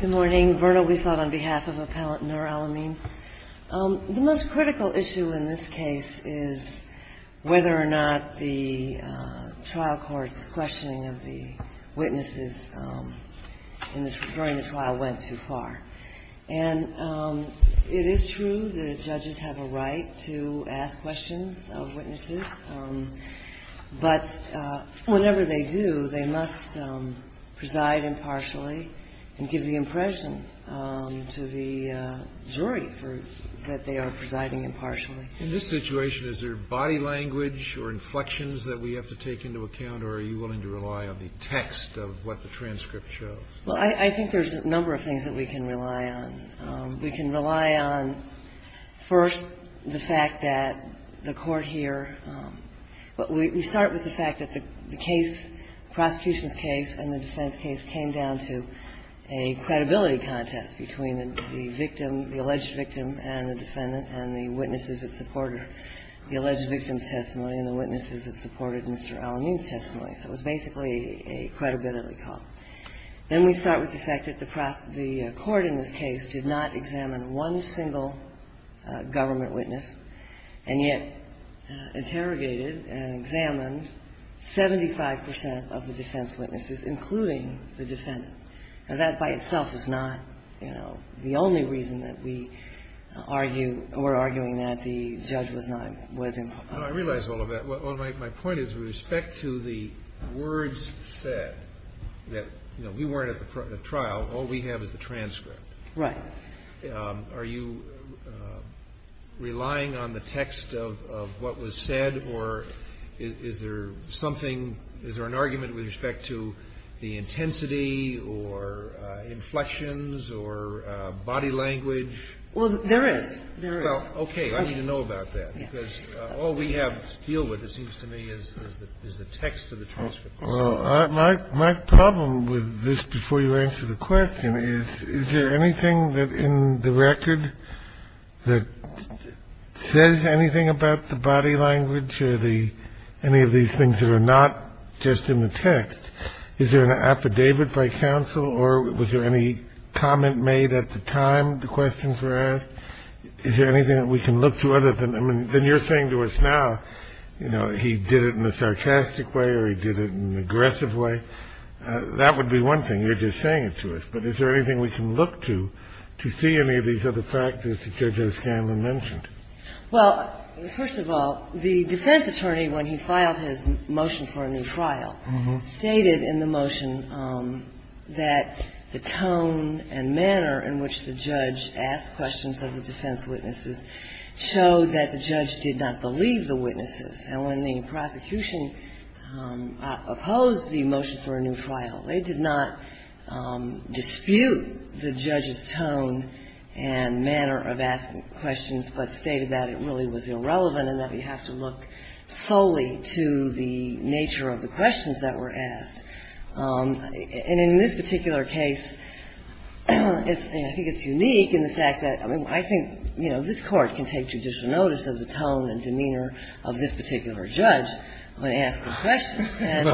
The most critical issue in this case is whether or not the trial court's questioning of the witnesses during the trial went too far. And it is true that judges have a right to ask questions of witnesses, but whenever they do, they must preside impartially and give the impression to the jury that they are presiding impartially. In this situation, is there body language or inflections that we have to take into account, or are you willing to rely on the text of what the transcript shows? Well, I think there's a number of things that we can rely on. We can rely on, first, the fact that the court here – we start with the fact that the case, the prosecution's case and the defense case, came down to a credibility contest between the victim, the alleged victim and the defendant and the witnesses that supported the alleged victim's testimony and the witnesses that supported Mr. Alamin's testimony. So it was basically a credibility call. Then we start with the fact that the court in this case did not examine one single government witness and yet interrogated and examined 75 percent of the defense witnesses, including the defendant. Now, that by itself is not, you know, the only reason that we argue or are arguing that the judge was not – was impartial. Well, my point is with respect to the words said that, you know, we weren't at the trial. All we have is the transcript. Right. Are you relying on the text of what was said, or is there something – is there an argument with respect to the intensity or inflections or body language? Well, there is. Well, okay. I need to know about that, because all we have to deal with, it seems to me, is the text of the transcript. Well, my problem with this, before you answer the question, is, is there anything in the record that says anything about the body language or the – any of these things that are not just in the text? Is there an affidavit by counsel or was there any comment made at the time the questions were asked? Is there anything that we can look to other than – I mean, then you're saying to us now, you know, he did it in a sarcastic way or he did it in an aggressive way. That would be one thing. You're just saying it to us. But is there anything we can look to, to see any of these other factors that Judge O'Scanlan mentioned? Well, first of all, the defense attorney, when he filed his motion for a new trial, stated in the motion that the tone and manner in which the judge asked questions of the defense witnesses showed that the judge did not believe the witnesses. And when the prosecution opposed the motion for a new trial, they did not dispute the judge's tone and manner of asking questions, but stated that it really was irrelevant and that we have to look solely to the nature of the questions that were asked. And in this particular case, I think it's unique in the fact that – I mean, I think, you know, this Court can take judicial notice of the tone and demeanor of this particular judge when asking questions. And,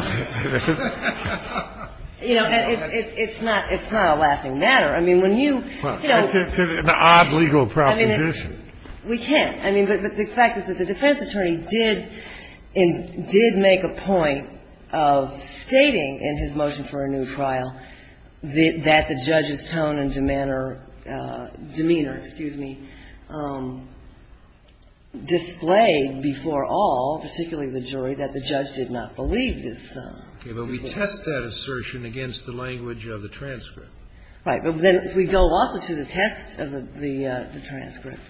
you know, it's not a laughing matter. I mean, when you – Well, that's an odd legal proposition. We can't. I mean, but the fact is that the defense attorney did make a point of stating in his motion for a new trial that the judge's tone and demeanor, excuse me, displayed before all, particularly the jury, that the judge did not believe this. Okay. But we test that assertion against the language of the transcript. Right. Then if we go also to the test of the transcript,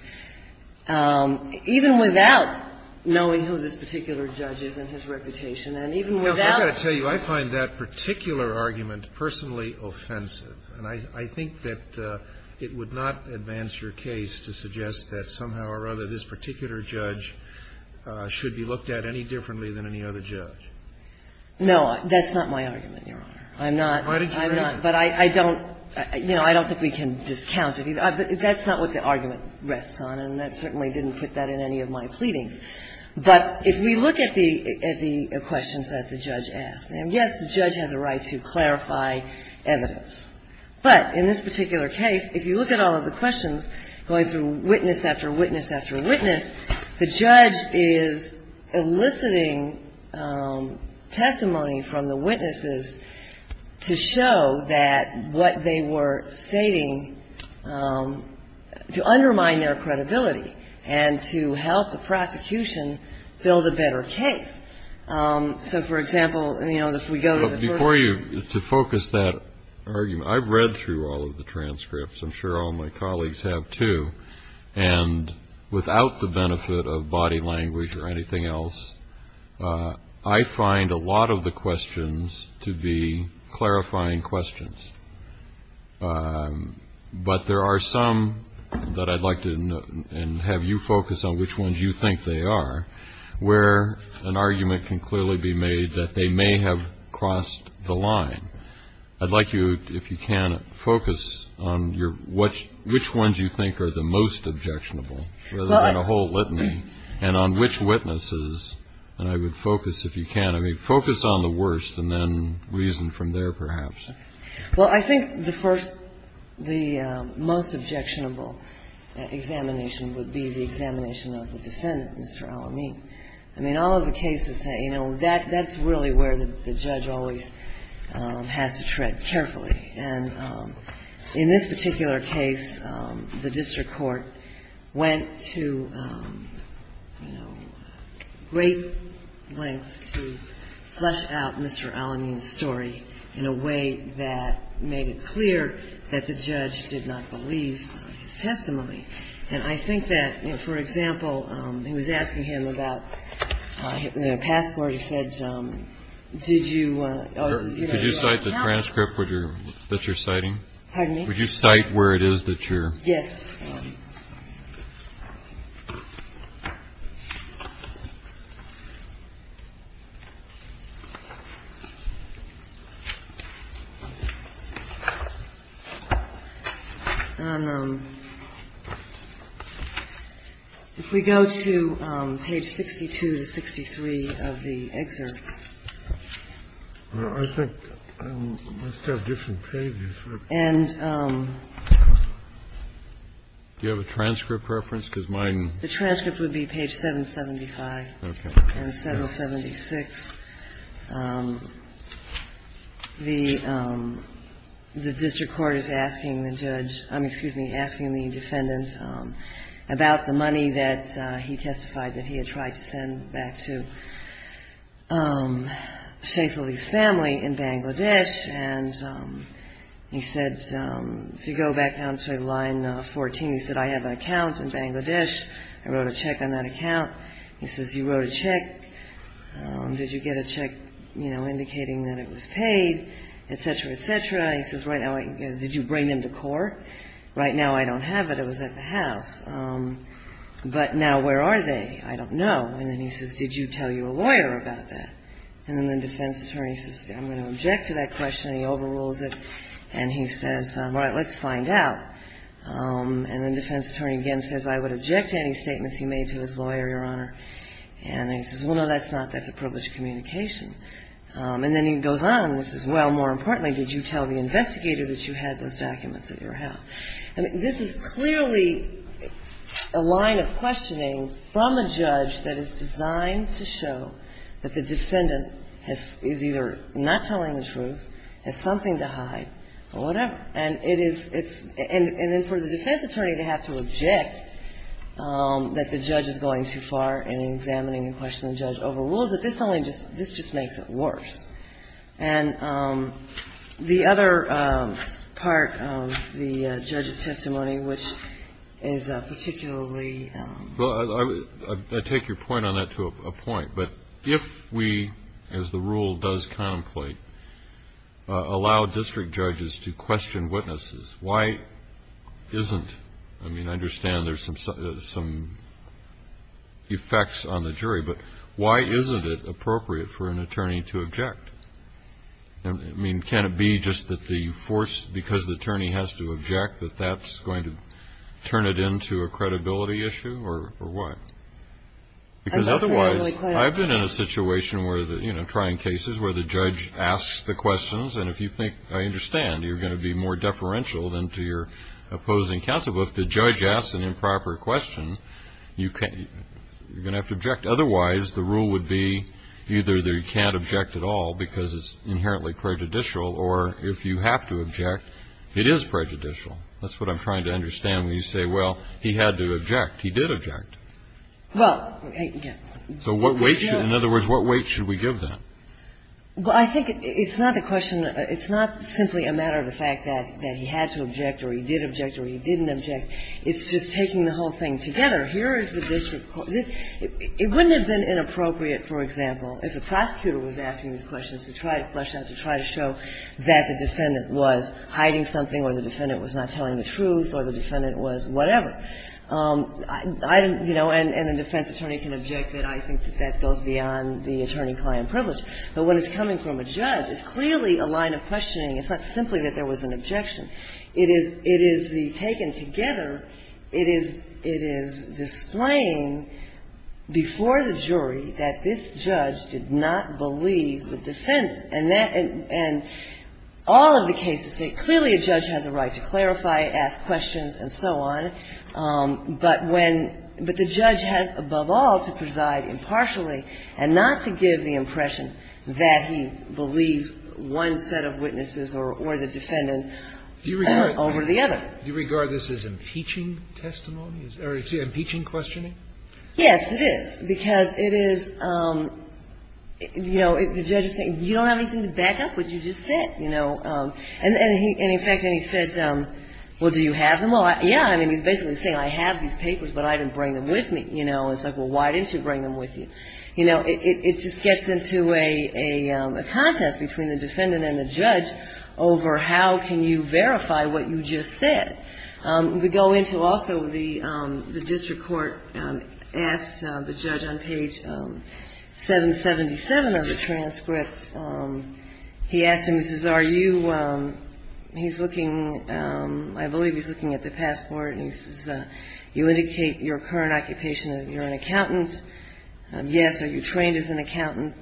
even without knowing who this particular judge is and his reputation, and even without – Counsel, I've got to tell you, I find that particular argument personally offensive. And I think that it would not advance your case to suggest that somehow or other this particular judge should be looked at any differently than any other judge. No. That's not my argument, Your Honor. I'm not. I'm not. But I don't – you know, I don't think we can discount it. That's not what the argument rests on, and that certainly didn't put that in any of my pleadings. But if we look at the questions that the judge asked, and, yes, the judge has a right to clarify evidence, but in this particular case, if you look at all of the questions going through witness after witness after witness, the judge is eliciting testimony from the witnesses to show that what they were stating to undermine their credibility and to help the prosecution build a better case. So, for example, you know, if we go to the first – Before you – to focus that argument, I've read through all of the transcripts. I'm sure all my colleagues have, too. And without the benefit of body language or anything else, I find a lot of the questions to be clarifying questions. But there are some that I'd like to – and have you focus on which ones you think they are, where an argument can clearly be made that they may have crossed the line. I'd like you, if you can, focus on which ones you think are the most objectionable, rather than a whole litany, and on which witnesses. And I would focus, if you can – I mean, focus on the worst and then reason from there, perhaps. Well, I think the first – the most objectionable examination would be the examination of the defendant, Mr. Al-Amin. I mean, all of the cases, you know, that's really where the judge always has to tread carefully. And in this particular case, the district court went to, you know, great lengths to flesh out Mr. Al-Amin's story in a way that made it clear that the judge did not believe his testimony. And I think that, you know, for example, he was asking him about the passport. He said, did you – Could you cite the transcript that you're citing? Pardon me? Would you cite where it is that you're – Yes. And if we go to page 62 to 63 of the excerpt. I think I must have different pages. Do you have a transcript reference? Because mine – The transcript would be page 775. Okay. And 776. The district court is asking the judge – I mean, excuse me, asking the defendant about the money that he testified that he had tried to send back to Shaikh Ali's family in Bangladesh. And he said – if you go back down to line 14, he said, I have an account in Bangladesh. I wrote a check on that account. He says, you wrote a check. Did you get a check, you know, indicating that it was paid, et cetera, et cetera. He says, did you bring them to court? Right now I don't have it. It was at the house. But now where are they? I don't know. And then he says, did you tell your lawyer about that? And then the defense attorney says, I'm going to object to that question. And he overrules it. And he says, all right, let's find out. And the defense attorney again says, I would object to any statements he made to his lawyer, Your Honor. And he says, well, no, that's not – that's a privileged communication. And then he goes on and says, well, more importantly, did you tell the investigator that you had those documents at your house? And this is clearly a line of questioning from a judge that is designed to show that the defendant is either not telling the truth, has something to hide, or whatever. And it is – it's – and then for the defense attorney to have to object that the judge is going too far in examining the question the judge overrules it, this only just – this just makes it worse. And the other part of the judge's testimony, which is particularly – Well, I take your point on that to a point. But if we, as the rule does contemplate, allow district judges to question witnesses, why isn't – I mean, I understand there's some effects on the jury, but why isn't it appropriate for an attorney to object? I mean, can it be just that the force – because the attorney has to object, that that's going to turn it into a credibility issue, or what? Because otherwise – I've been in a situation where the – you know, trying cases where the judge asks the questions, and if you think – I understand, you're going to be more deferential than to your opposing counsel. But if the judge asks an improper question, you can't – you're going to have to object. Otherwise, the rule would be either that you can't object at all because it's inherently prejudicial, or if you have to object, it is prejudicial. That's what I'm trying to understand when you say, well, he had to object. He did object. Well, yeah. So what weight should – in other words, what weight should we give that? Well, I think it's not a question – it's not simply a matter of the fact that he had to object or he did object or he didn't object. It's just taking the whole thing together. Here is the district court. It wouldn't have been inappropriate, for example, if a prosecutor was asking these questions, to try to flesh out, to try to show that the defendant was hiding something or the defendant was not telling the truth or the defendant was whatever. I didn't – you know, and a defense attorney can object. I think that that goes beyond the attorney-client privilege. But when it's coming from a judge, it's clearly a line of questioning. It's not simply that there was an objection. It is the – taken together, it is displaying before the jury that this judge did not believe the defendant. And that – and all of the cases say clearly a judge has a right to clarify, ask questions, and so on. But when – but the judge has above all to preside impartially and not to give the impression that he believes one set of witnesses or the defendant over the other. Do you regard this as impeaching testimony? Or is it impeaching questioning? Yes, it is. Because it is – you know, the judge is saying, you don't have anything to back up what you just said. You know. And in fact, he said, well, do you have them? Well, yeah. I mean, he's basically saying, I have these papers, but I didn't bring them with me. You know, it's like, well, why didn't you bring them with you? You know, it just gets into a contest between the defendant and the judge over how can you verify what you just said. We go into also the district court asked the judge on page 777 of the transcript. He asked him, he says, are you – he's looking – I believe he's looking at the passport. And he says, you indicate your current occupation, that you're an accountant. Yes. Are you trained as an accountant?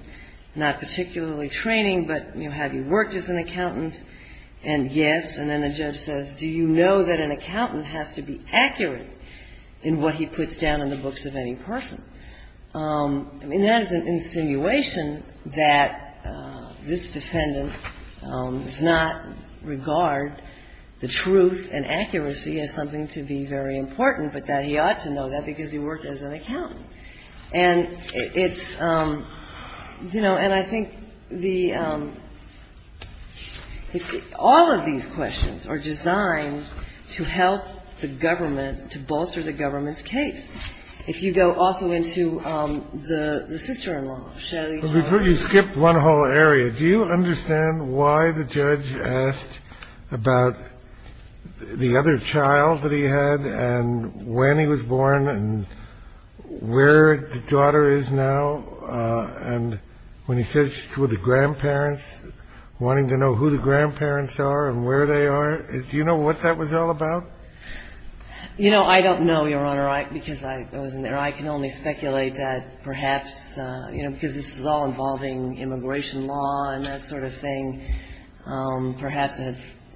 Not particularly training, but, you know, have you worked as an accountant? And yes. And then the judge says, do you know that an accountant has to be accurate in what he puts down in the books of any person? I mean, that is an insinuation that this defendant does not regard the truth and accuracy as something to be very important, but that he ought to know that because he worked as an accountant. And it's, you know, and I think the – all of these questions are designed to help the government, to bolster the government's case. If you go also into the sister-in-law, Shelley. Before you skip one whole area, do you understand why the judge asked about the other child that he had and when he was born and where the daughter is now? And when he says she's with the grandparents, wanting to know who the grandparents are and where they are, do you know what that was all about? You know, I don't know, Your Honor, because I wasn't there. I can only speculate that perhaps, you know, because this is all involving immigration law and that sort of thing, perhaps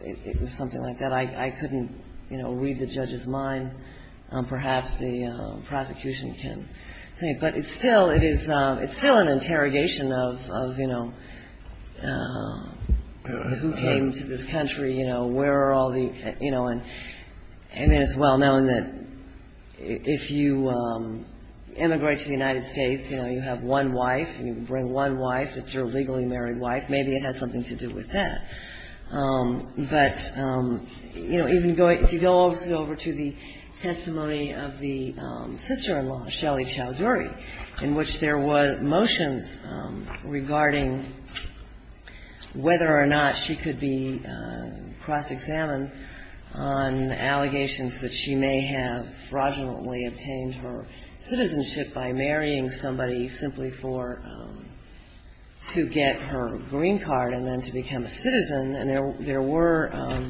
it was something like that. I couldn't, you know, read the judge's mind. Perhaps the prosecution can. But it's still – it is – it's still an interrogation of, you know, who came to this country, you know, where are all the – you know, and it is well known that if you immigrate to the United States, you know, you have one wife. You bring one wife that's your legally married wife. Maybe it had something to do with that. But, you know, even going – if you go also over to the testimony of the sister-in-law, Shelley Chowdhury, in which there were motions regarding whether or not she could be cross-examined on allegations that she may have fraudulently obtained her citizenship by marrying somebody simply for – to get her green card and then to become a citizen. And there were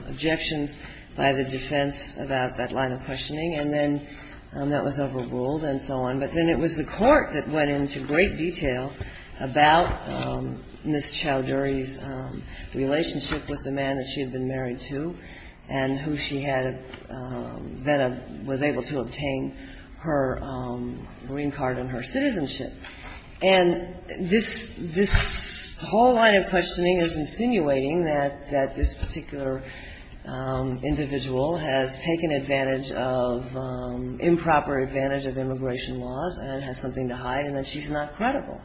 objections by the defense about that line of questioning. And then that was overruled and so on. But then it was the court that went into great detail about Ms. Chowdhury's relationship with the man that she had been married to and who she had – that was able to obtain her green card and her citizenship. And this – this whole line of questioning is insinuating that – that this particular individual has taken advantage of – improper advantage of immigration laws and has something to hide and that she's not credible.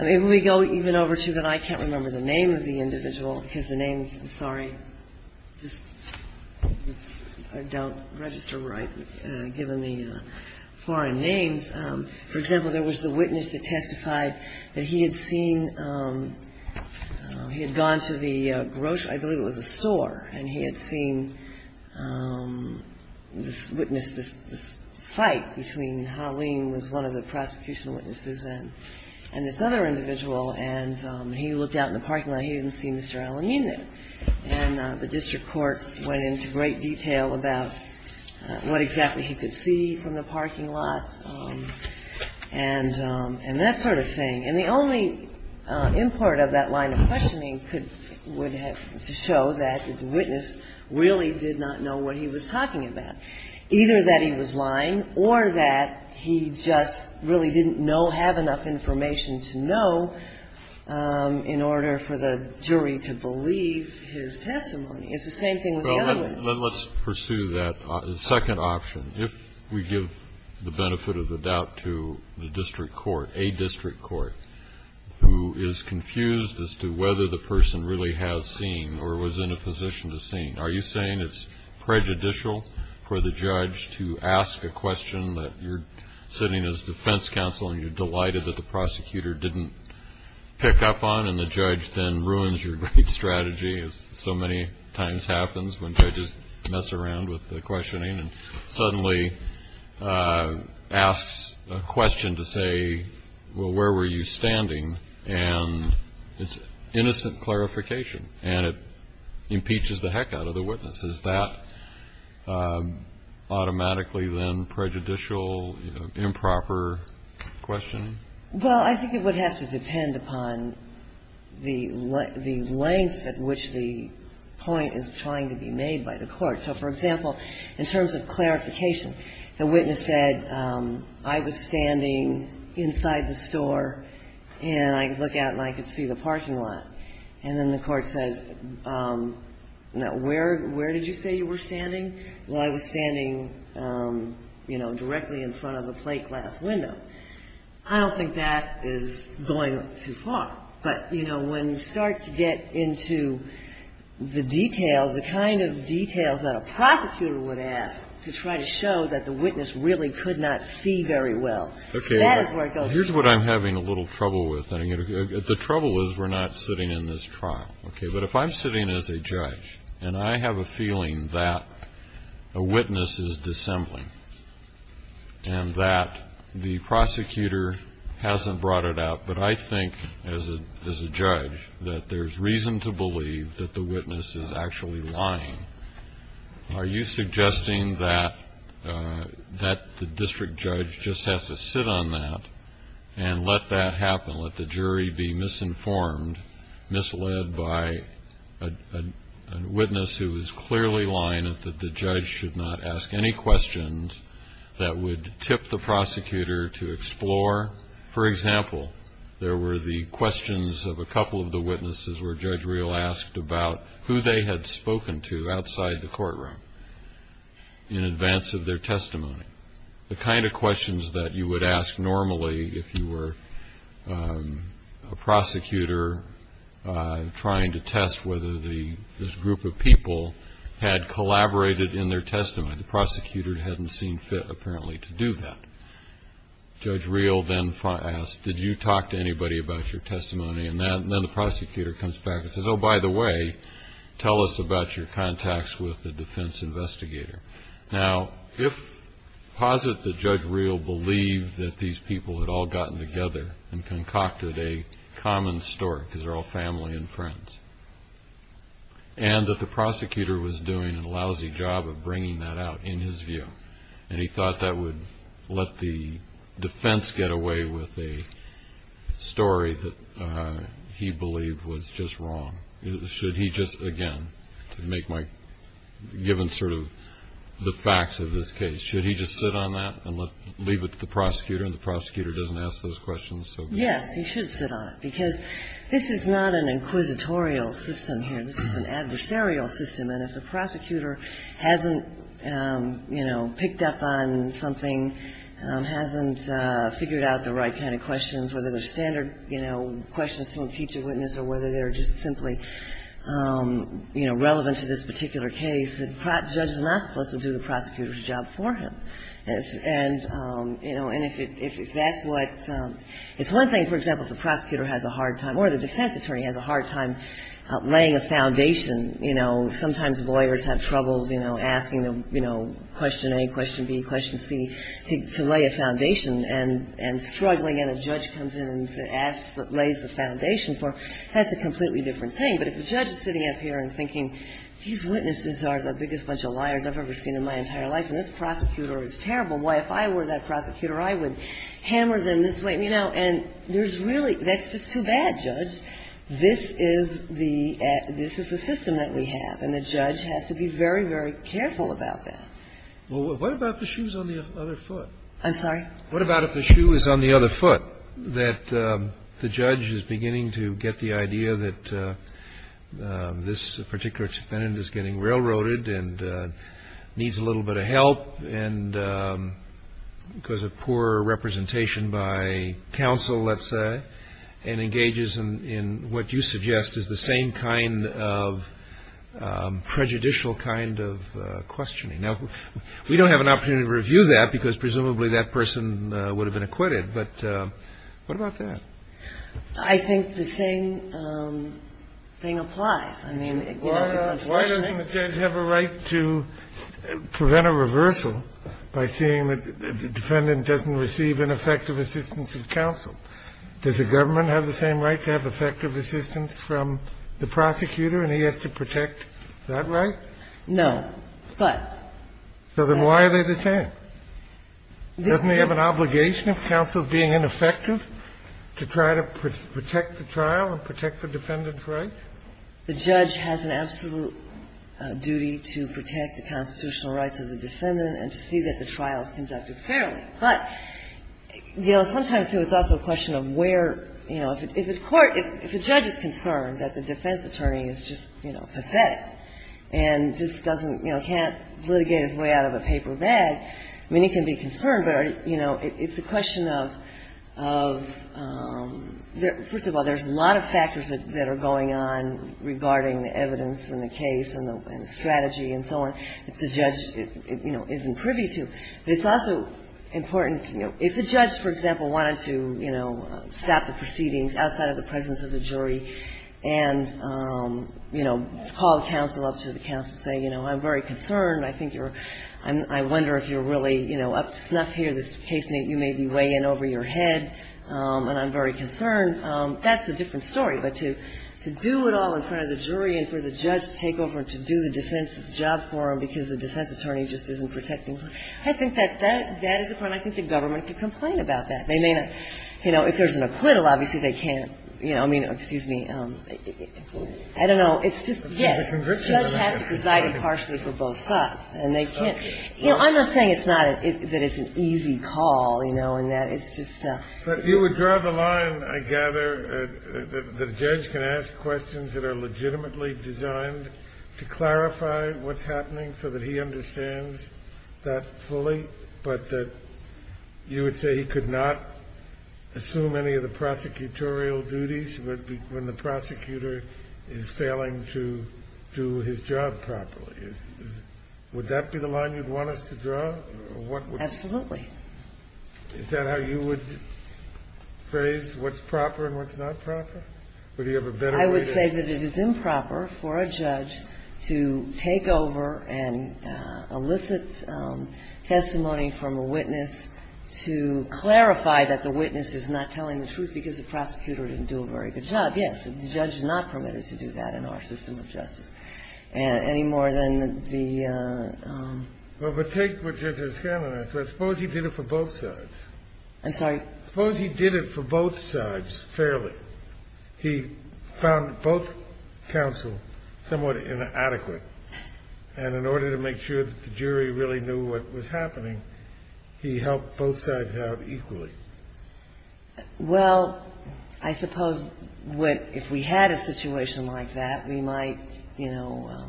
I mean, if we go even over to the – I can't remember the name of the individual because the names – I'm sorry. Just – I don't register right, given the foreign names. For example, there was the witness that testified that he had seen – he had gone to the grocery – I believe it was a store – and he had seen this witness, this fight between Halim, who was one of the prosecution witnesses, and this other individual. And he looked out in the parking lot. He didn't see Mr. Al-Amin there. And the district court went into great detail about what exactly he could see from the parking lot and that sort of thing. And the only import of that line of questioning could – would have – to show that the witness really did not know what he was talking about, either that he was lying or that he just really didn't know – have enough information to know in order for the jury to believe his testimony. It's the same thing with the other witnesses. Then let's pursue that second option. If we give the benefit of the doubt to the district court, a district court, who is confused as to whether the person really has seen or was in a position to see, are you saying it's prejudicial for the judge to ask a question that you're sitting as defense counsel and you're delighted that the prosecutor didn't pick up on and the judge then ruins your great strategy as so many times happens when judges mess around with the questioning and suddenly asks a question to say, well, where were you standing? And it's innocent clarification, and it impeaches the heck out of the witness. Is that automatically then prejudicial, improper questioning? Well, I think it would have to depend upon the length at which the point is trying to be made by the court. So, for example, in terms of clarification, the witness said, I was standing inside the store and I could look out and I could see the parking lot. And then the court says, no, where did you say you were standing? Well, I was standing, you know, directly in front of a plate glass window. I don't think that is going too far. But, you know, when you start to get into the details, the kind of details that a prosecutor would ask to try to show that the witness really could not see very well, that is where it goes. Okay. Here's what I'm having a little trouble with. The trouble is we're not sitting in this trial, okay? But if I'm sitting as a judge and I have a feeling that a witness is dissembling and that the prosecutor hasn't brought it out, but I think as a judge that there's reason to believe that the witness is actually lying, are you suggesting that the district judge just has to sit on that and let that happen, let the jury be misinformed, misled by a witness who is clearly lying, that the judge should not ask any questions that would tip the prosecutor to explore? For example, there were the questions of a couple of the witnesses where Judge Real asked about who they had spoken to outside the courtroom in advance of their testimony, the kind of questions that you would ask normally if you were a prosecutor trying to test whether this group of people had collaborated in their testimony. The prosecutor hadn't seen fit apparently to do that. Judge Real then asked, did you talk to anybody about your testimony? And then the prosecutor comes back and says, oh, by the way, tell us about your contacts with the defense investigator. Now, if, posit that Judge Real believed that these people had all gotten together and concocted a common story because they're all family and friends and that the prosecutor was doing a lousy job of bringing that out in his view and he thought that would let the defense get away with a story that he believed was just wrong, should he just, again, to make my, given sort of the facts of this case, should he just sit on that and leave it to the prosecutor and the prosecutor doesn't ask those questions? Yes, he should sit on it, because this is not an inquisitorial system here. This is an adversarial system, and if the prosecutor hasn't, you know, picked up on something, hasn't figured out the right kind of questions, whether they're standard, you know, questions to impeach a witness or whether they're just simply, you know, relevant to this particular case, the judge is not supposed to do the prosecutor's job for him. And, you know, and if that's what, it's one thing, for example, if the prosecutor has a hard time or the defense attorney has a hard time laying a foundation, you know, sometimes lawyers have troubles, you know, asking, you know, question A, question B, question C, to lay a foundation and struggling and a judge comes in and asks, lays the foundation for, that's a completely different thing. But if the judge is sitting up here and thinking, these witnesses are the biggest bunch of liars I've ever seen in my entire life and this prosecutor is terrible, why, if I were that prosecutor, I would hammer them this way. You know, and there's really, that's just too bad, Judge. This is the, this is the system that we have, and the judge has to be very, very careful about that. Well, what about if the shoe's on the other foot? I'm sorry? What about if the shoe is on the other foot, that the judge is beginning to get the idea that this particular defendant is getting railroaded and needs a little bit of help and because of poor representation by counsel, let's say, and engages in what you suggest is the same kind of prejudicial kind of questioning? Now, we don't have an opportunity to review that because presumably that person would have been acquitted, but what about that? I think the same thing applies. I mean, you know, because it's the same thing. Why doesn't the judge have a right to prevent a reversal by seeing that the defendant doesn't receive ineffective assistance from counsel? Does the government have the same right to have effective assistance from the prosecutor and he has to protect that right? No, but... So then why are they the same? Doesn't he have an obligation, if counsel is being ineffective, to try to protect the trial and protect the defendant's rights? The judge has an absolute duty to protect the constitutional rights of the defendant and to see that the trial is conducted fairly. But, you know, sometimes it's also a question of where, you know, if the court, if the judge is concerned that the defense attorney is just, you know, pathetic and just doesn't, you know, can't litigate his way out of a paper bag, I mean, he can be concerned, but, you know, it's a question of, of... First of all, there's a lot of factors that are going on regarding the evidence and the case and the strategy and so on that the judge, you know, isn't privy to. But it's also important, you know, if the judge, for example, wanted to, you know, stop the proceedings outside of the presence of the jury and, you know, call the counsel up to the counsel and say, you know, I'm very concerned, I think you're, I wonder if you're really, you know, up to snuff here, this case may, you may be way in over your head, and I'm very concerned, that's a different story. But to do it all in front of the jury and for the judge to take over and to do the defense's job for him because the defense attorney just isn't protecting him, I think that, that is a point I think the government should complain about that. They may not, you know, if there's an acquittal, obviously they can't, you know, I mean, excuse me, I don't know, it's just, yes, the judge has to preside impartially for both sides, and they can't, you know, I'm not saying it's not, that it's an easy call, you know, and that it's just a. But you would draw the line, I gather, that a judge can ask questions that are legitimately designed to clarify what's happening so that he understands that fully, but that you would say he could not assume any of the prosecutorial duties when the prosecutor is failing to do his job properly. Would that be the line you'd want us to draw? Or what would. Absolutely. Is that how you would phrase what's proper and what's not proper? Would he have a better way to. I would say that it is improper for a judge to take over and elicit testimony from a witness to clarify that the witness is not telling the truth because the prosecutor didn't do a very good job. Yes, the judge is not permitted to do that in our system of justice any more than the. Well, but take what Judge O'Scannon has said. Suppose he did it for both sides. I'm sorry? Suppose he did it for both sides fairly. He found both counsel somewhat inadequate, and in order to make sure that the jury really knew what was happening, he helped both sides out equally. Well, I suppose if we had a situation like that, we might, you know,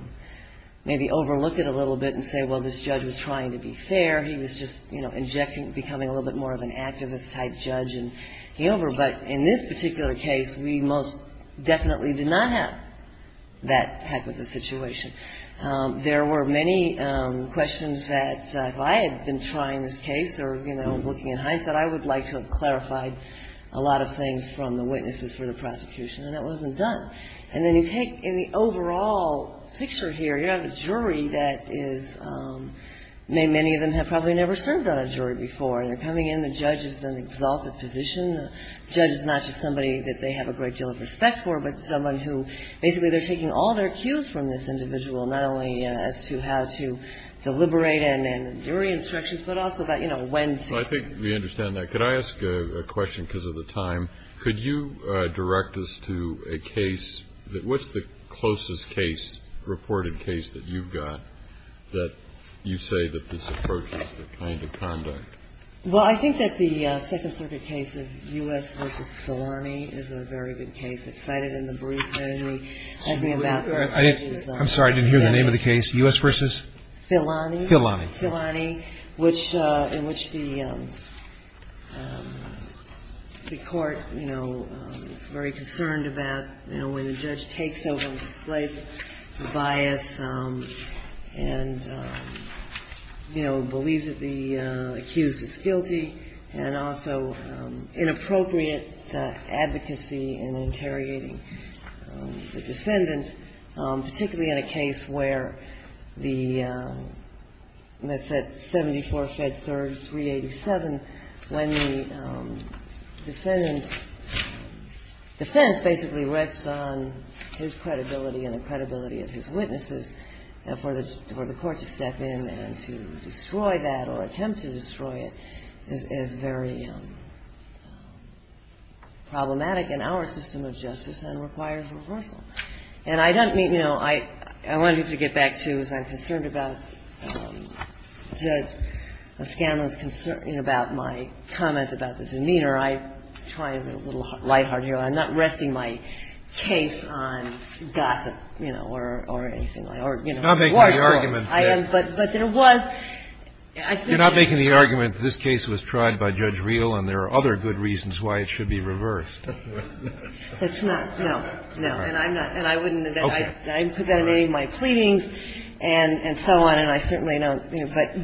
maybe overlook it a little bit and say, well, this judge was trying to be fair. He was just, you know, injecting, becoming a little bit more of an activist-type judge and he over. But in this particular case, we most definitely did not have that type of a situation. There were many questions that if I had been trying this case or, you know, looking in hindsight, I would like to have clarified a lot of things from the witnesses for the prosecution, and that wasn't done. And then you take in the overall picture here, you have a jury that is, many of them have probably never served on a jury before, and they're coming in. The judge is in an exalted position. The judge is not just somebody that they have a great deal of respect for, but someone who basically they're taking all their cues from this individual, not only as to how to deliberate and jury instructions, but also about, you know, when to. Well, I think we understand that. Could I ask a question because of the time? Could you direct us to a case? What's the closest case, reported case, that you've got that you say that this approach is the kind of conduct? Well, I think that the Second Circuit case of U.S. v. Solani is a very good case. I was excited in the brief. I didn't hear the name of the case. U.S. v. Solani. Solani. Solani, in which the court, you know, is very concerned about, you know, when a judge takes over and displays bias and, you know, believes that the accused is guilty and also inappropriate advocacy in interrogating the defendant, particularly in a case where the 74 fed 3387, when the defendant's defense basically rests on his credibility and the credibility of his witnesses for the court to step in and to destroy that or attempt to destroy it is very problematic in our system of justice and requires reversal. And I don't mean, you know, I wanted to get back to, as I'm concerned about Judge Scanlon's concern about my comment about the demeanor, I'm trying to be a little light-hearted here. I'm not resting my case on gossip, you know, or anything like that, or, you know, war stories. I am, but there was. I think that. You're not making the argument that this case was tried by Judge Reel and there are other good reasons why it should be reversed. It's not. No, no. And I'm not. And I wouldn't. I put that in any of my pleadings and so on, and I certainly don't.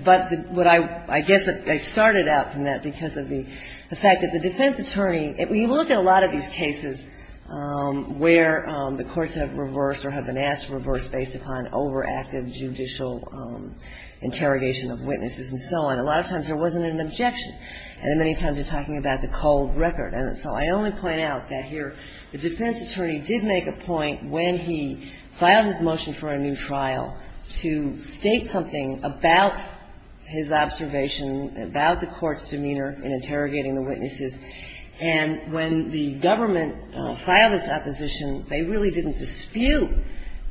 But what I guess I started out from that because of the fact that the defense attorney, you look at a lot of these cases where the courts have reversed or have been asked to reverse based upon overactive judicial interrogation of witnesses and so on. A lot of times there wasn't an objection. And many times you're talking about the cold record. And so I only point out that here the defense attorney did make a point when he filed his motion for a new trial to state something about his observation, about the court's demeanor in interrogating the witnesses. And when the government filed its opposition, they really didn't dispute,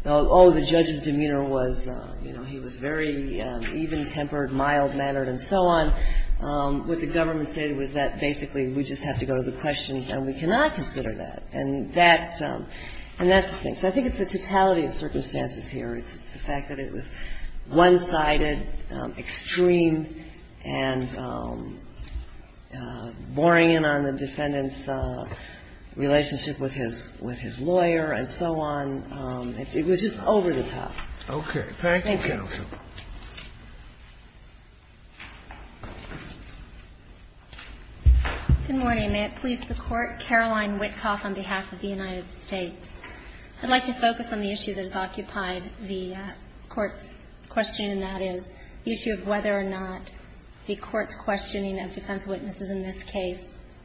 oh, the judge's demeanor was, you know, he was very even-tempered, mild-mannered and so on. What the government said was that basically we just have to go to the questions and we cannot consider that. And that's the thing. So I think it's the totality of circumstances here. It's the fact that it was one-sided, extreme, and boring in on the defendant's relationship with his lawyer and so on. It was just over the top. Thank you. Thank you, counsel. Good morning. May it please the Court. Caroline Witkoff on behalf of the United States. I'd like to focus on the issue that has occupied the Court's questioning, and that is the issue of whether or not the Court's questioning of defense witnesses in this case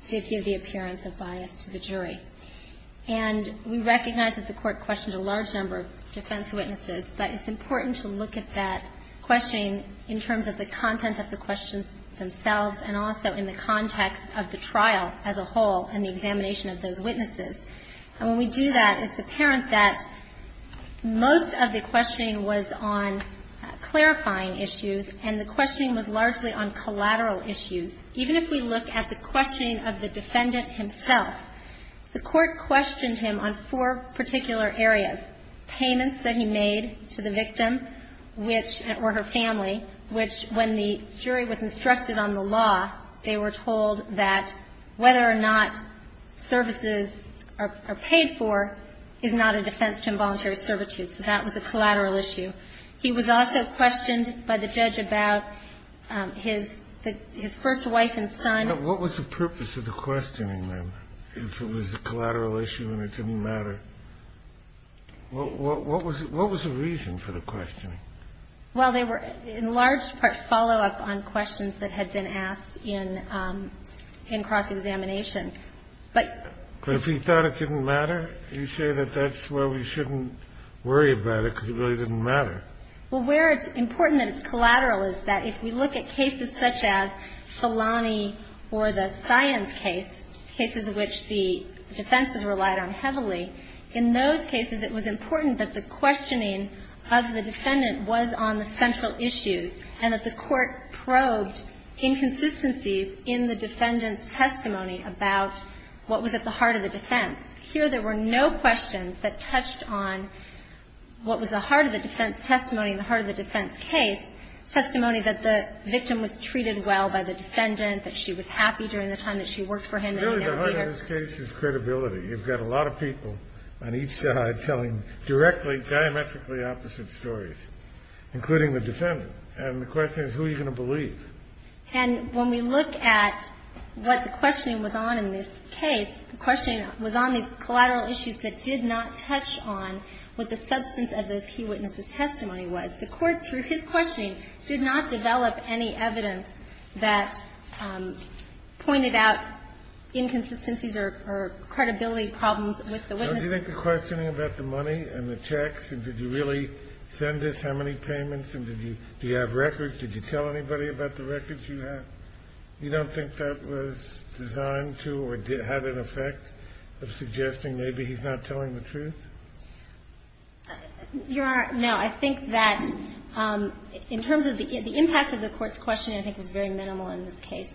did give the appearance of bias to the jury. And we recognize that the Court questioned a large number of defense witnesses, but it's important to look at that questioning in terms of the content of the questions themselves and also in the context of the trial as a whole and the examination of those witnesses. And when we do that, it's apparent that most of the questioning was on clarifying issues and the questioning was largely on collateral issues. Even if we look at the questioning of the defendant himself, the Court questioned him on four particular areas, payments that he made to the victim, which or her family, which when the jury was instructed on the law, they were told that whether or not services are paid for is not a defense to involuntary servitude. So that was a collateral issue. He was also questioned by the judge about his first wife and son. What was the purpose of the questioning, then, if it was a collateral issue and it didn't matter? What was the reason for the questioning? Well, they were in large part follow-up on questions that had been asked in cross-examination. But if he thought it didn't matter, you say that that's where we shouldn't worry about it, because it really didn't matter. Well, where it's important that it's collateral is that if we look at cases such as Felani or the Cyan's case, cases which the defense has relied on heavily, in those cases it was important that the questioning of the defendant was on the central issues and that the Court probed inconsistencies in the defendant's testimony about what was at the heart of the defense. Here there were no questions that touched on what was the heart of the defense testimony and the heart of the defense case, testimony that the victim was treated well by the defendant, that she was happy during the time that she worked for him. Really, the heart of this case is credibility. You've got a lot of people on each side telling directly, diametrically opposite stories, including the defendant. And the question is, who are you going to believe? And when we look at what the questioning was on in this case, the questioning was on these collateral issues that did not touch on what the substance of those key witnesses' testimony was. The Court, through his questioning, did not develop any evidence that pointed out inconsistencies or credibility problems with the witnesses. Do you think the questioning about the money and the checks, and did you really send us how many payments, and did you have records, did you tell anybody about the records you had? You don't think that was designed to or had an effect of suggesting maybe he's not telling the truth? You Honor, no. I think that in terms of the impact of the Court's questioning, I think, was very minimal in this case.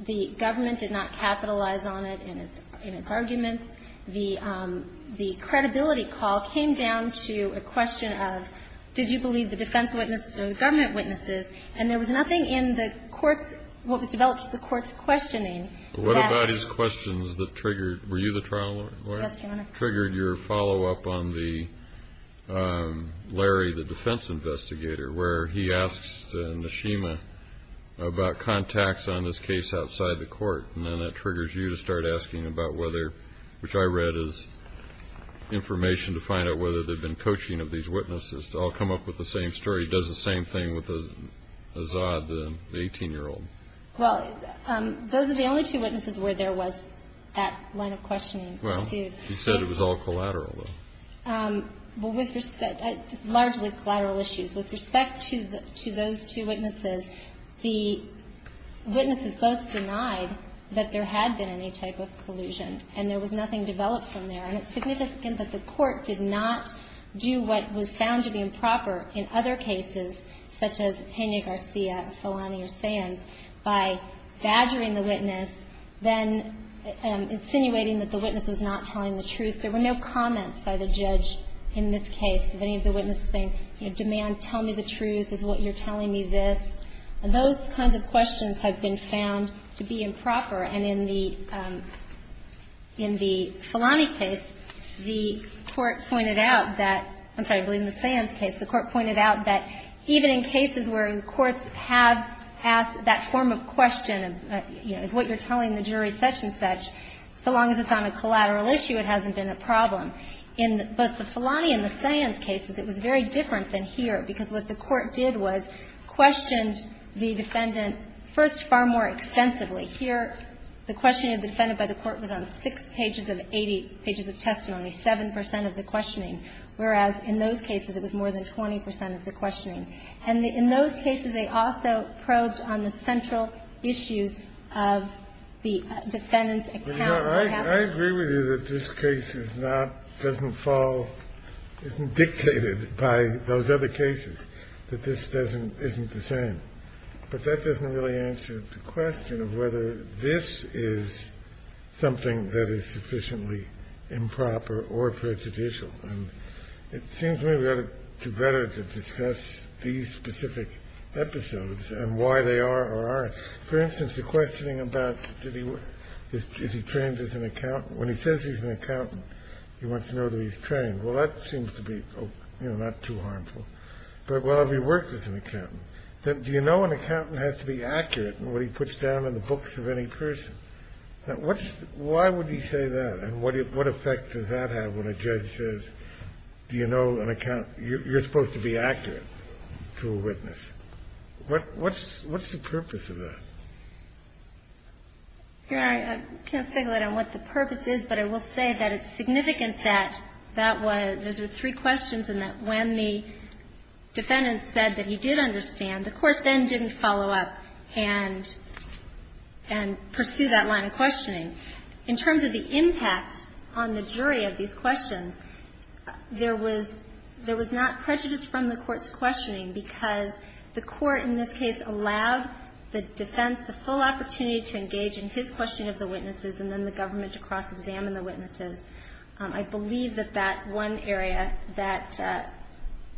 The government did not capitalize on it in its arguments. The credibility call came down to a question of did you believe the defense witnesses or the government witnesses? And there was nothing in the Court's, what was developed in the Court's questioning that. What about his questions that triggered, were you the trial lawyer? Yes, Your Honor. Triggered your follow-up on the, Larry, the defense investigator, where he asks Neshima about contacts on this case outside the court, and then that triggers you to start asking about whether, which I read as information to find out whether they've been coaching of these witnesses. I'll come up with the same story. He does the same thing with Azad, the 18-year-old. Well, those are the only two witnesses where there was that line of questioning. Well, he said it was all collateral, though. Well, with respect, largely collateral issues. With respect to those two witnesses, the witnesses both denied that there had been any type of collusion, and there was nothing developed from there. And it's significant that the Court did not do what was found to be improper in other cases, such as Henya Garcia, Felani or Sands, by badgering the witness, then insinuating that the witness was not telling the truth. There were no comments by the judge in this case of any of the witnesses saying, you know, demand, tell me the truth, is what you're telling me this. And those kinds of questions have been found to be improper. And in the Felani case, the Court pointed out that — I'm sorry, I believe in the Sands case, the Court pointed out that even in cases where courts have asked that form of question of, you know, is what you're telling the jury such and such, so long as it's on a collateral issue, it hasn't been a problem. In both the Felani and the Sands cases, it was very different than here, because what the Court did was questioned the defendant first far more extensively. Here, the questioning of the defendant by the Court was on 6 pages of 80 pages of testimony, 7 percent of the questioning, whereas in those cases it was more than 20 percent of the questioning. And in those cases, they also probed on the central issues of the defendant's account of what happened. I agree with you that this case is not — doesn't fall — isn't dictated by those other cases, that this doesn't — isn't the same. But that doesn't really answer the question of whether this is something that is sufficiently improper or prejudicial. And it seems to me we ought to better to discuss these specific episodes and why they are or aren't. For instance, the questioning about did he — is he trained as an accountant? When he says he's an accountant, he wants to know that he's trained. Well, that seems to be, you know, not too harmful. But well, have you worked as an accountant? Do you know an accountant has to be accurate in what he puts down in the books of any person? What's — why would he say that, and what effect does that have when a judge says, What's the purpose of that? Here, I can't speculate on what the purpose is, but I will say that it's significant that that was — those were three questions and that when the defendant said that he did understand, the Court then didn't follow up and pursue that line of questioning. In terms of the impact on the jury of these questions, there was not prejudice from the Court's questioning because the Court in this case allowed the defense, the full opportunity to engage in his questioning of the witnesses and then the government to cross-examine the witnesses. I believe that that one area that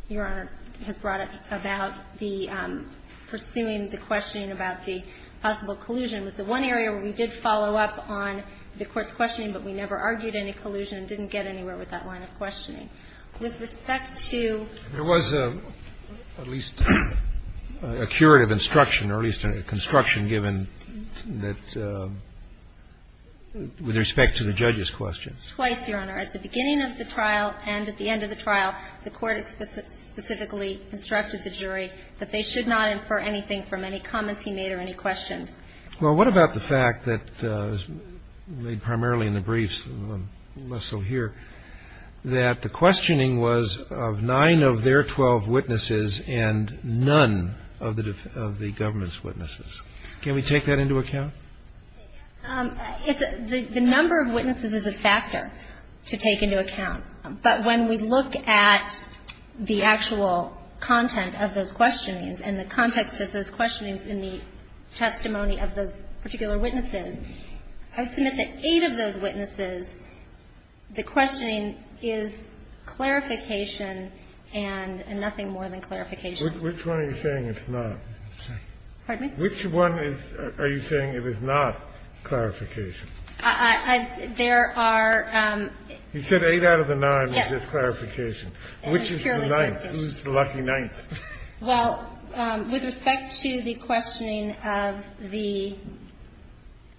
Your Honor has brought up about the pursuing the questioning about the possible collusion was the one area where we did follow up on the Court's questioning, but we never argued any collusion and didn't get anywhere with that line of questioning. With respect to — There was at least a curative instruction or at least a construction given that — with respect to the judge's questions. Twice, Your Honor. At the beginning of the trial and at the end of the trial, the Court specifically instructed the jury that they should not infer anything from any comments he made or any questions. Well, what about the fact that — made primarily in the briefs, less so here — that the questioning was of nine of their 12 witnesses and none of the government's witnesses? Can we take that into account? The number of witnesses is a factor to take into account. But when we look at the actual content of those questionings and the context of those testimony of those particular witnesses, I submit that eight of those witnesses, the questioning is clarification and nothing more than clarification. Which one are you saying it's not? Pardon me? Which one is — are you saying it is not clarification? There are — You said eight out of the nine is just clarification. Yes. Which is the ninth? Who's the lucky ninth? Well, with respect to the questioning of the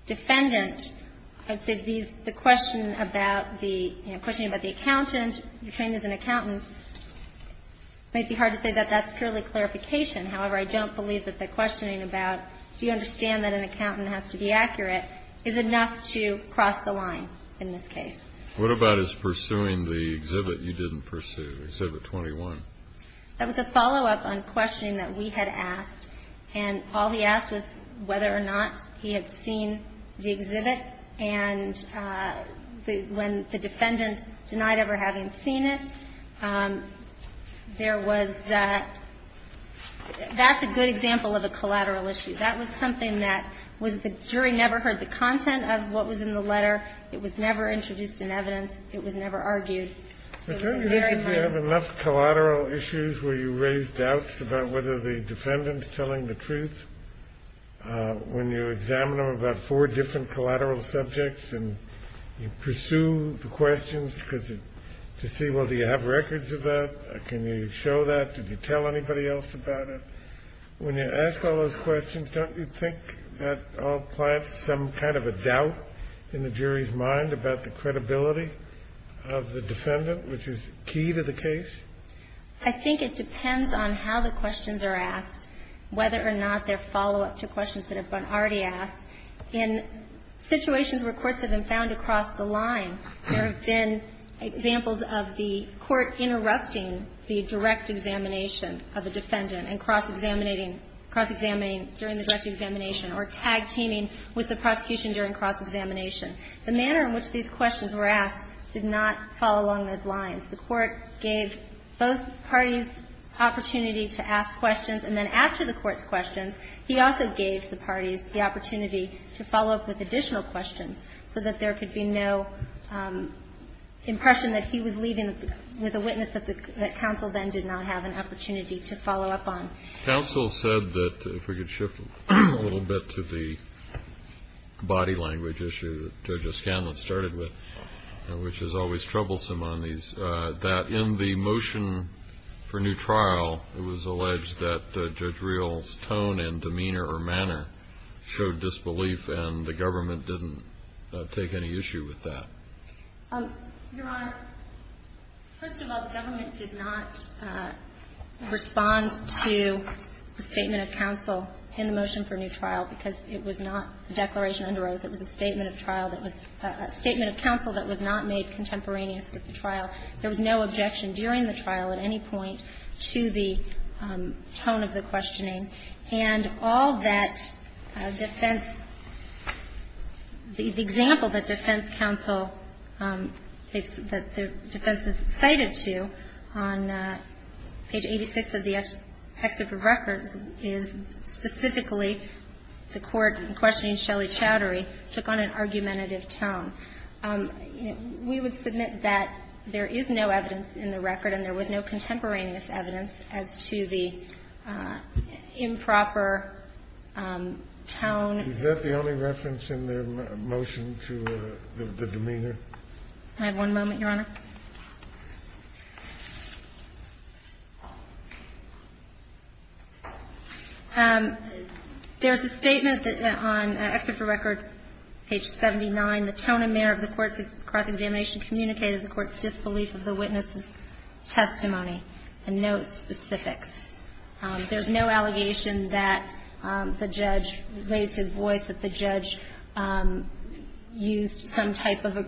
defendant, I'd say the question about the — you know, the question about the accountant, detained as an accountant, might be hard to say that that's purely clarification. However, I don't believe that the questioning about do you understand that an accountant has to be accurate is enough to cross the line in this case. What about his pursuing the exhibit you didn't pursue, exhibit 21? That was a follow-up on questioning that we had asked. And all he asked was whether or not he had seen the exhibit. And when the defendant denied ever having seen it, there was — that's a good example of a collateral issue. That was something that was the jury never heard the content of what was in the letter. It was never introduced in evidence. It was never argued. But don't you think we have enough collateral issues where you raise doubts about whether the defendant's telling the truth? When you examine them about four different collateral subjects and you pursue the questions to see, well, do you have records of that? Can you show that? Did you tell anybody else about it? When you ask all those questions, don't you think that all plants some kind of a doubt in the jury's mind about the credibility of the defendant, which is key to the case? I think it depends on how the questions are asked, whether or not they're follow-up to questions that have been already asked. In situations where courts have been found to cross the line, there have been examples of the court interrupting the direct examination of the defendant and cross-examining during the direct examination or tag-teaming with the prosecution during cross-examination. The manner in which these questions were asked did not follow along those lines. The court gave both parties opportunity to ask questions, and then after the court's questions, he also gave the parties the opportunity to follow up with additional questions so that there could be no impression that he was leaving with a witness that counsel then did not have an opportunity to follow up on. Counsel said that, if we could shift a little bit to the body language issue that Judge Escanlan started with, which is always troublesome on these, that in the motion for new trial, it was alleged that Judge Reel's tone and demeanor or manner showed disbelief, and the government didn't take any issue with that. Your Honor, first of all, the government did not respond to the statement of counsel in the motion for new trial because it was not a declaration under oath. It was a statement of trial that was a statement of counsel that was not made contemporaneous with the trial. There was no objection during the trial at any point to the tone of the questioning. And all that defense, the example that defense counsel, that the defense is cited to on page 86 of the excerpt of records is specifically the court questioning Shelley Chowdhury took on an argumentative tone. We would submit that there is no evidence in the record and there was no contemporaneous evidence as to the improper tone. Is that the only reference in the motion to the demeanor? Can I have one moment, Your Honor? There is a statement on an excerpt of record, page 79. The tone and manner of the court's cross-examination communicated the court's disbelief of the witness's testimony and no specifics. There's no allegation that the judge raised his voice, that the judge used some type of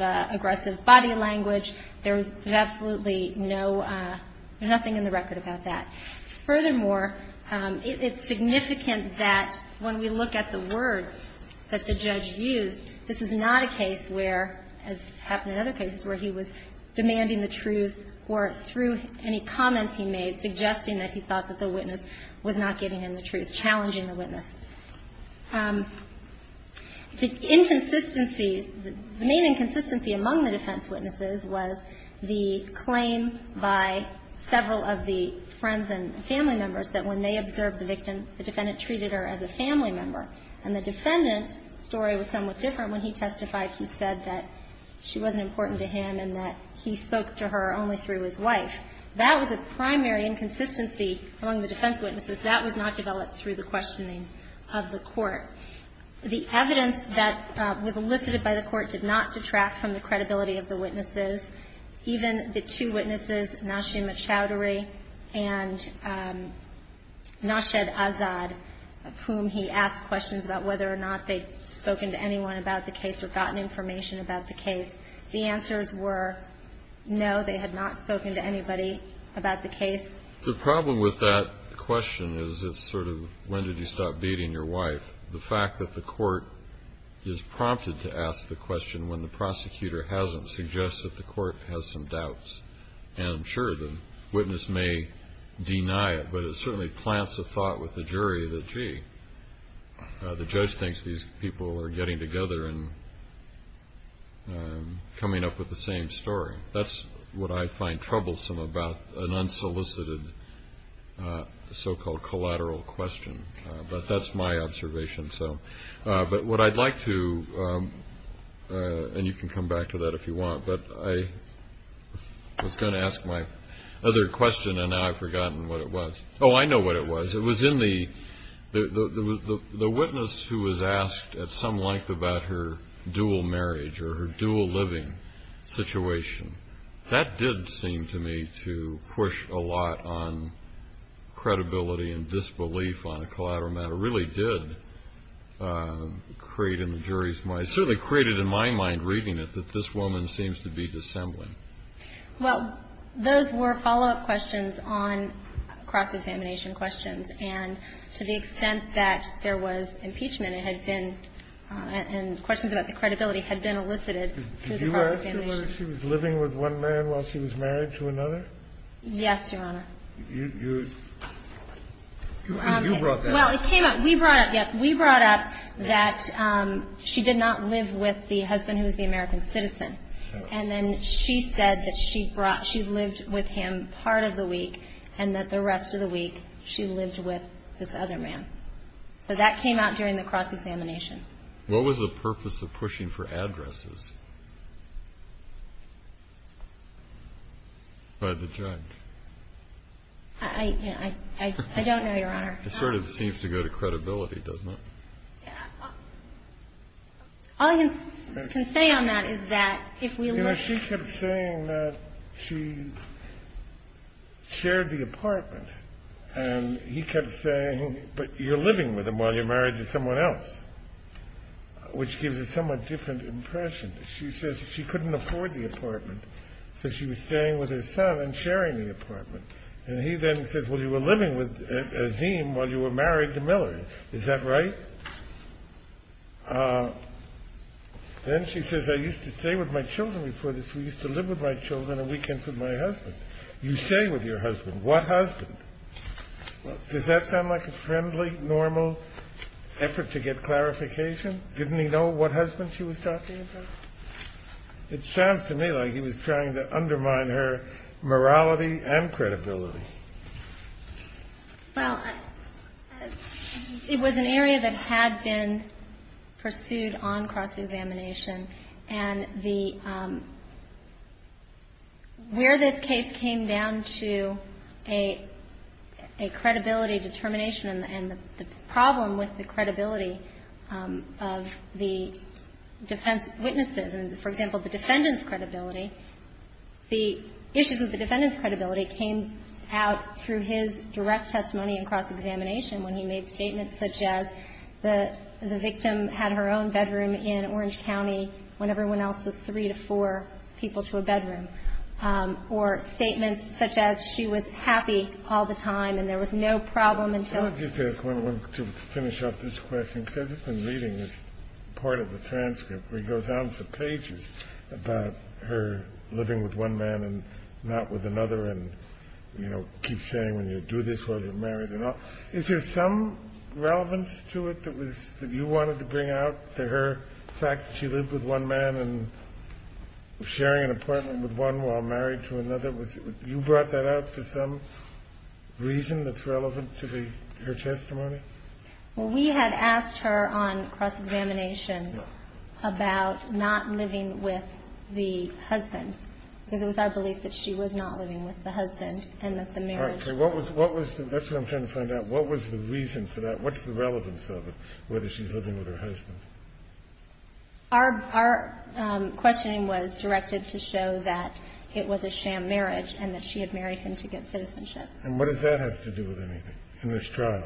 aggressive body language. There was absolutely no, nothing in the record about that. Furthermore, it's significant that when we look at the words that the judge used, this is not a case where, as has happened in other cases, where he was demanding the truth or through any comments he made suggesting that he thought that the witness was not giving him the truth, challenging the witness. The inconsistencies, the main inconsistency among the defense witnesses was the claim by several of the friends and family members that when they observed the victim, the defendant treated her as a family member. And the defendant's story was somewhat different. When he testified, he said that she wasn't important to him and that he spoke to her only through his wife. That was a primary inconsistency among the defense witnesses. That was not developed through the questioning of the court. The evidence that was elicited by the court did not detract from the credibility of the witnesses. Even the two witnesses, Nashima Chowdhury and Nashed Azad, of whom he asked questions about whether or not they'd spoken to anyone about the case or gotten information about the case, the answers were no, they had not spoken to anybody about the case. The problem with that question is it's sort of when did you stop beating your wife. The fact that the court is prompted to ask the question when the prosecutor hasn't suggests that the court has some doubts. And I'm sure the witness may deny it, but it certainly plants a thought with the jury that, gee, the judge thinks these people are getting together and coming up with the same story. That's what I find troublesome about an unsolicited so-called collateral question. But that's my observation. But what I'd like to, and you can come back to that if you want, but I was going to ask my other question and now I've forgotten what it was. Oh, I know what it was. It was in the witness who was asked at some length about her dual marriage or her dual living situation. That did seem to me to push a lot on credibility and disbelief on a collateral matter. It really did create in the jury's mind, certainly created in my mind reading it, that this woman seems to be dissembling. Well, those were follow-up questions on cross-examination questions. And to the extent that there was impeachment, it had been, and questions about the credibility had been elicited through the cross-examination. Did you ask her whether she was living with one man while she was married to another? Yes, Your Honor. You brought that up. Well, it came up, yes, we brought up that she did not live with the husband who was the American citizen. And then she said that she lived with him part of the week and that the rest of the week she lived with this other man. So that came out during the cross-examination. What was the purpose of pushing for addresses by the judge? I don't know, Your Honor. It sort of seems to go to credibility, doesn't it? All I can say on that is that if we look You know, she kept saying that she shared the apartment. And he kept saying, but you're living with him while you're married to someone else, which gives a somewhat different impression. She says she couldn't afford the apartment, so she was staying with her son and sharing the apartment. And he then said, well, you were living with Azeem while you were married to Miller. Is that right? Then she says, I used to stay with my children before this. We used to live with my children on weekends with my husband. You stay with your husband. What husband? Does that sound like a friendly, normal effort to get clarification? Didn't he know what husband she was talking about? It sounds to me like he was trying to undermine her morality and credibility. Well, it was an area that had been pursued on cross-examination. And where this case came down to a credibility determination and the problem with the credibility of the defense witnesses and, for example, the defendant's credibility, the issues with the defendant's credibility came out through his direct testimony and cross-examination when he made statements such as the victim had her own bedroom in Orange County when everyone else was three to four people to a bedroom, or statements such as she was happy all the time and there was no problem until her testimony came out. I'm curious about this question because I've just been reading this part of the transcript where he goes on for pages about her living with one man and not with another and, you know, keeps saying when you do this while you're married and all. Is there some relevance to it that you wanted to bring out to her fact that she lived with one man and was sharing an apartment with one while married to another? You brought that out for some reason that's relevant to her testimony? Well, we had asked her on cross-examination about not living with the husband because it was our belief that she was not living with the husband and that the marriage All right. So what was the reason for that? What's the relevance of it, whether she's living with her husband? Our questioning was directed to show that it was a sham marriage and that she had married him to get citizenship. And what does that have to do with anything in this trial?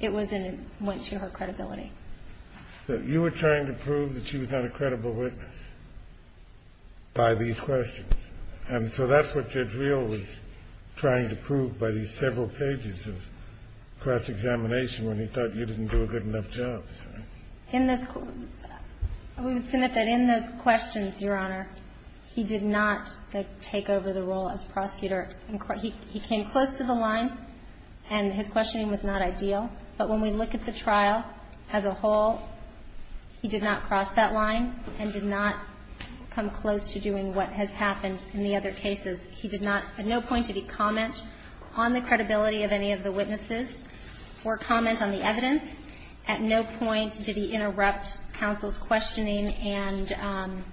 It was in a way to show her credibility. So you were trying to prove that she was not a credible witness by these questions. And so that's what Jadriel was trying to prove by these several pages of cross-examination when he thought you didn't do a good enough job. We would submit that in those questions, Your Honor, he did not take over the role as prosecutor. He came close to the line and his questioning was not ideal. But when we look at the trial as a whole, he did not cross that line and did not come close to doing what has happened in the other cases. He did not at no point did he comment on the credibility of any of the witnesses or comment on the evidence. At no point did he interrupt counsel's questioning and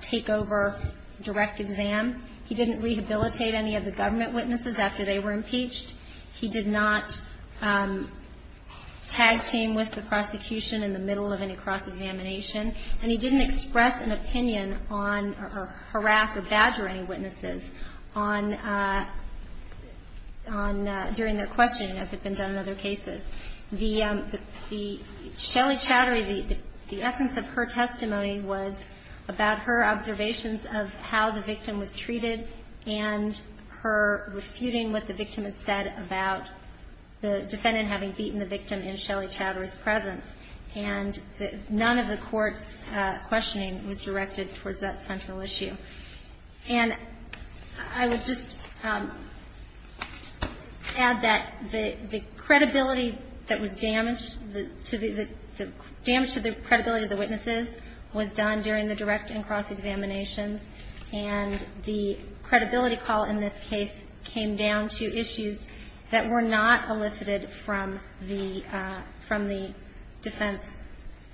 take over direct exam. He didn't rehabilitate any of the government witnesses after they were impeached. He did not tag team with the prosecution in the middle of any cross-examination. And he didn't express an opinion on or harass or badger any witnesses on the questioning as had been done in other cases. The Shelly Chowdhury, the essence of her testimony was about her observations of how the victim was treated and her refuting what the victim had said about the defendant having beaten the victim in Shelly Chowdhury's presence. And none of the court's questioning was directed towards that central issue. And I would just add that the credibility that was damaged, the damage to the credibility of the witnesses was done during the direct and cross-examinations, and the credibility call in this case came down to issues that were not elicited from the defense,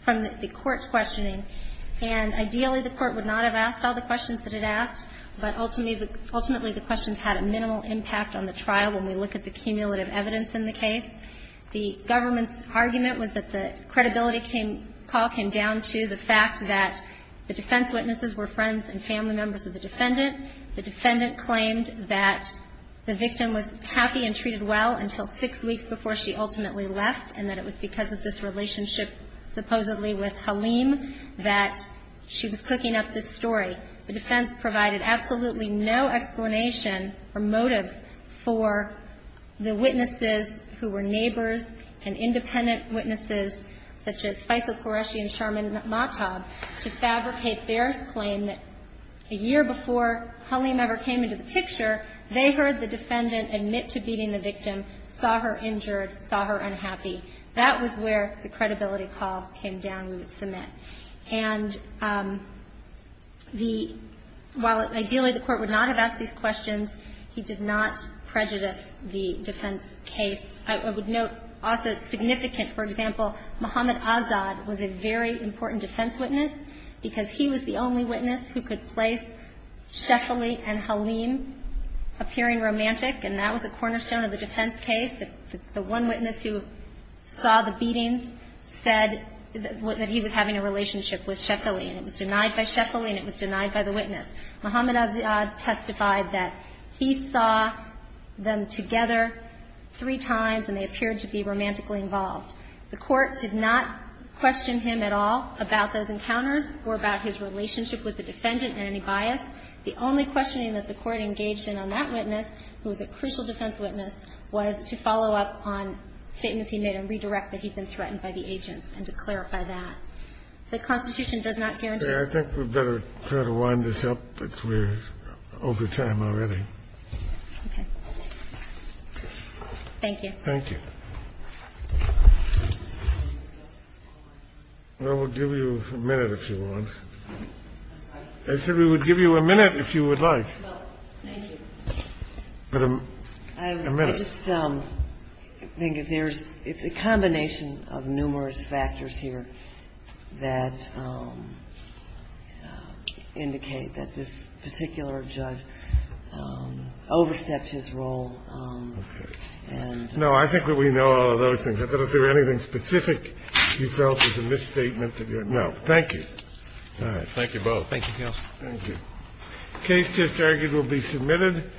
from the court's questioning. And ideally, the court would not have asked all the questions that it asked, but ultimately the questions had a minimal impact on the trial when we look at the cumulative evidence in the case. The government's argument was that the credibility call came down to the fact that the defense witnesses were friends and family members of the defendant. The defendant claimed that the victim was happy and treated well until six weeks before she ultimately left, and that it was because of this relationship supposedly with Halim that she was cooking up this story. The defense provided absolutely no explanation or motive for the witnesses who were neighbors and independent witnesses, such as Faisal Qureshi and Sharman Matab, to fabricate their claim that a year before Halim ever came into the picture, they heard the defendant admit to beating the victim, saw her injured, saw her unhappy. That was where the credibility call came down and was cement. And the – while ideally the court would not have asked these questions, he did not prejudice the defense case. I would note also significant, for example, Mohammad Azad was a very important defense witness because he was the only witness who could place Sheffaly and Halim appearing romantic, and that was a cornerstone of the defense case. The one witness who saw the beatings said that he was having a relationship with Sheffaly, and it was denied by Sheffaly and it was denied by the witness. Mohammad Azad testified that he saw them together three times and they appeared to be romantically involved. The court did not question him at all about those encounters or about his relationship with the defendant in any bias. The only questioning that the court engaged in on that witness, who was a crucial defense witness, was to follow up on statements he made and redirect that he'd been threatened by the agents and to clarify that. The Constitution does not guarantee that. I think we'd better try to wind this up because we're over time already. Okay. Thank you. Thank you. Well, we'll give you a minute if you want. I said we would give you a minute if you would like. Well, thank you. But a minute. I just think if there's the combination of numerous factors here that indicate that this particular judge overstepped his role. Okay. And no, I think that we know all of those things. I don't think there's anything specific you felt was a misstatement. Thank you. All right. Thank you both. Thank you, Counsel. Thank you. Case just argued will be submitted.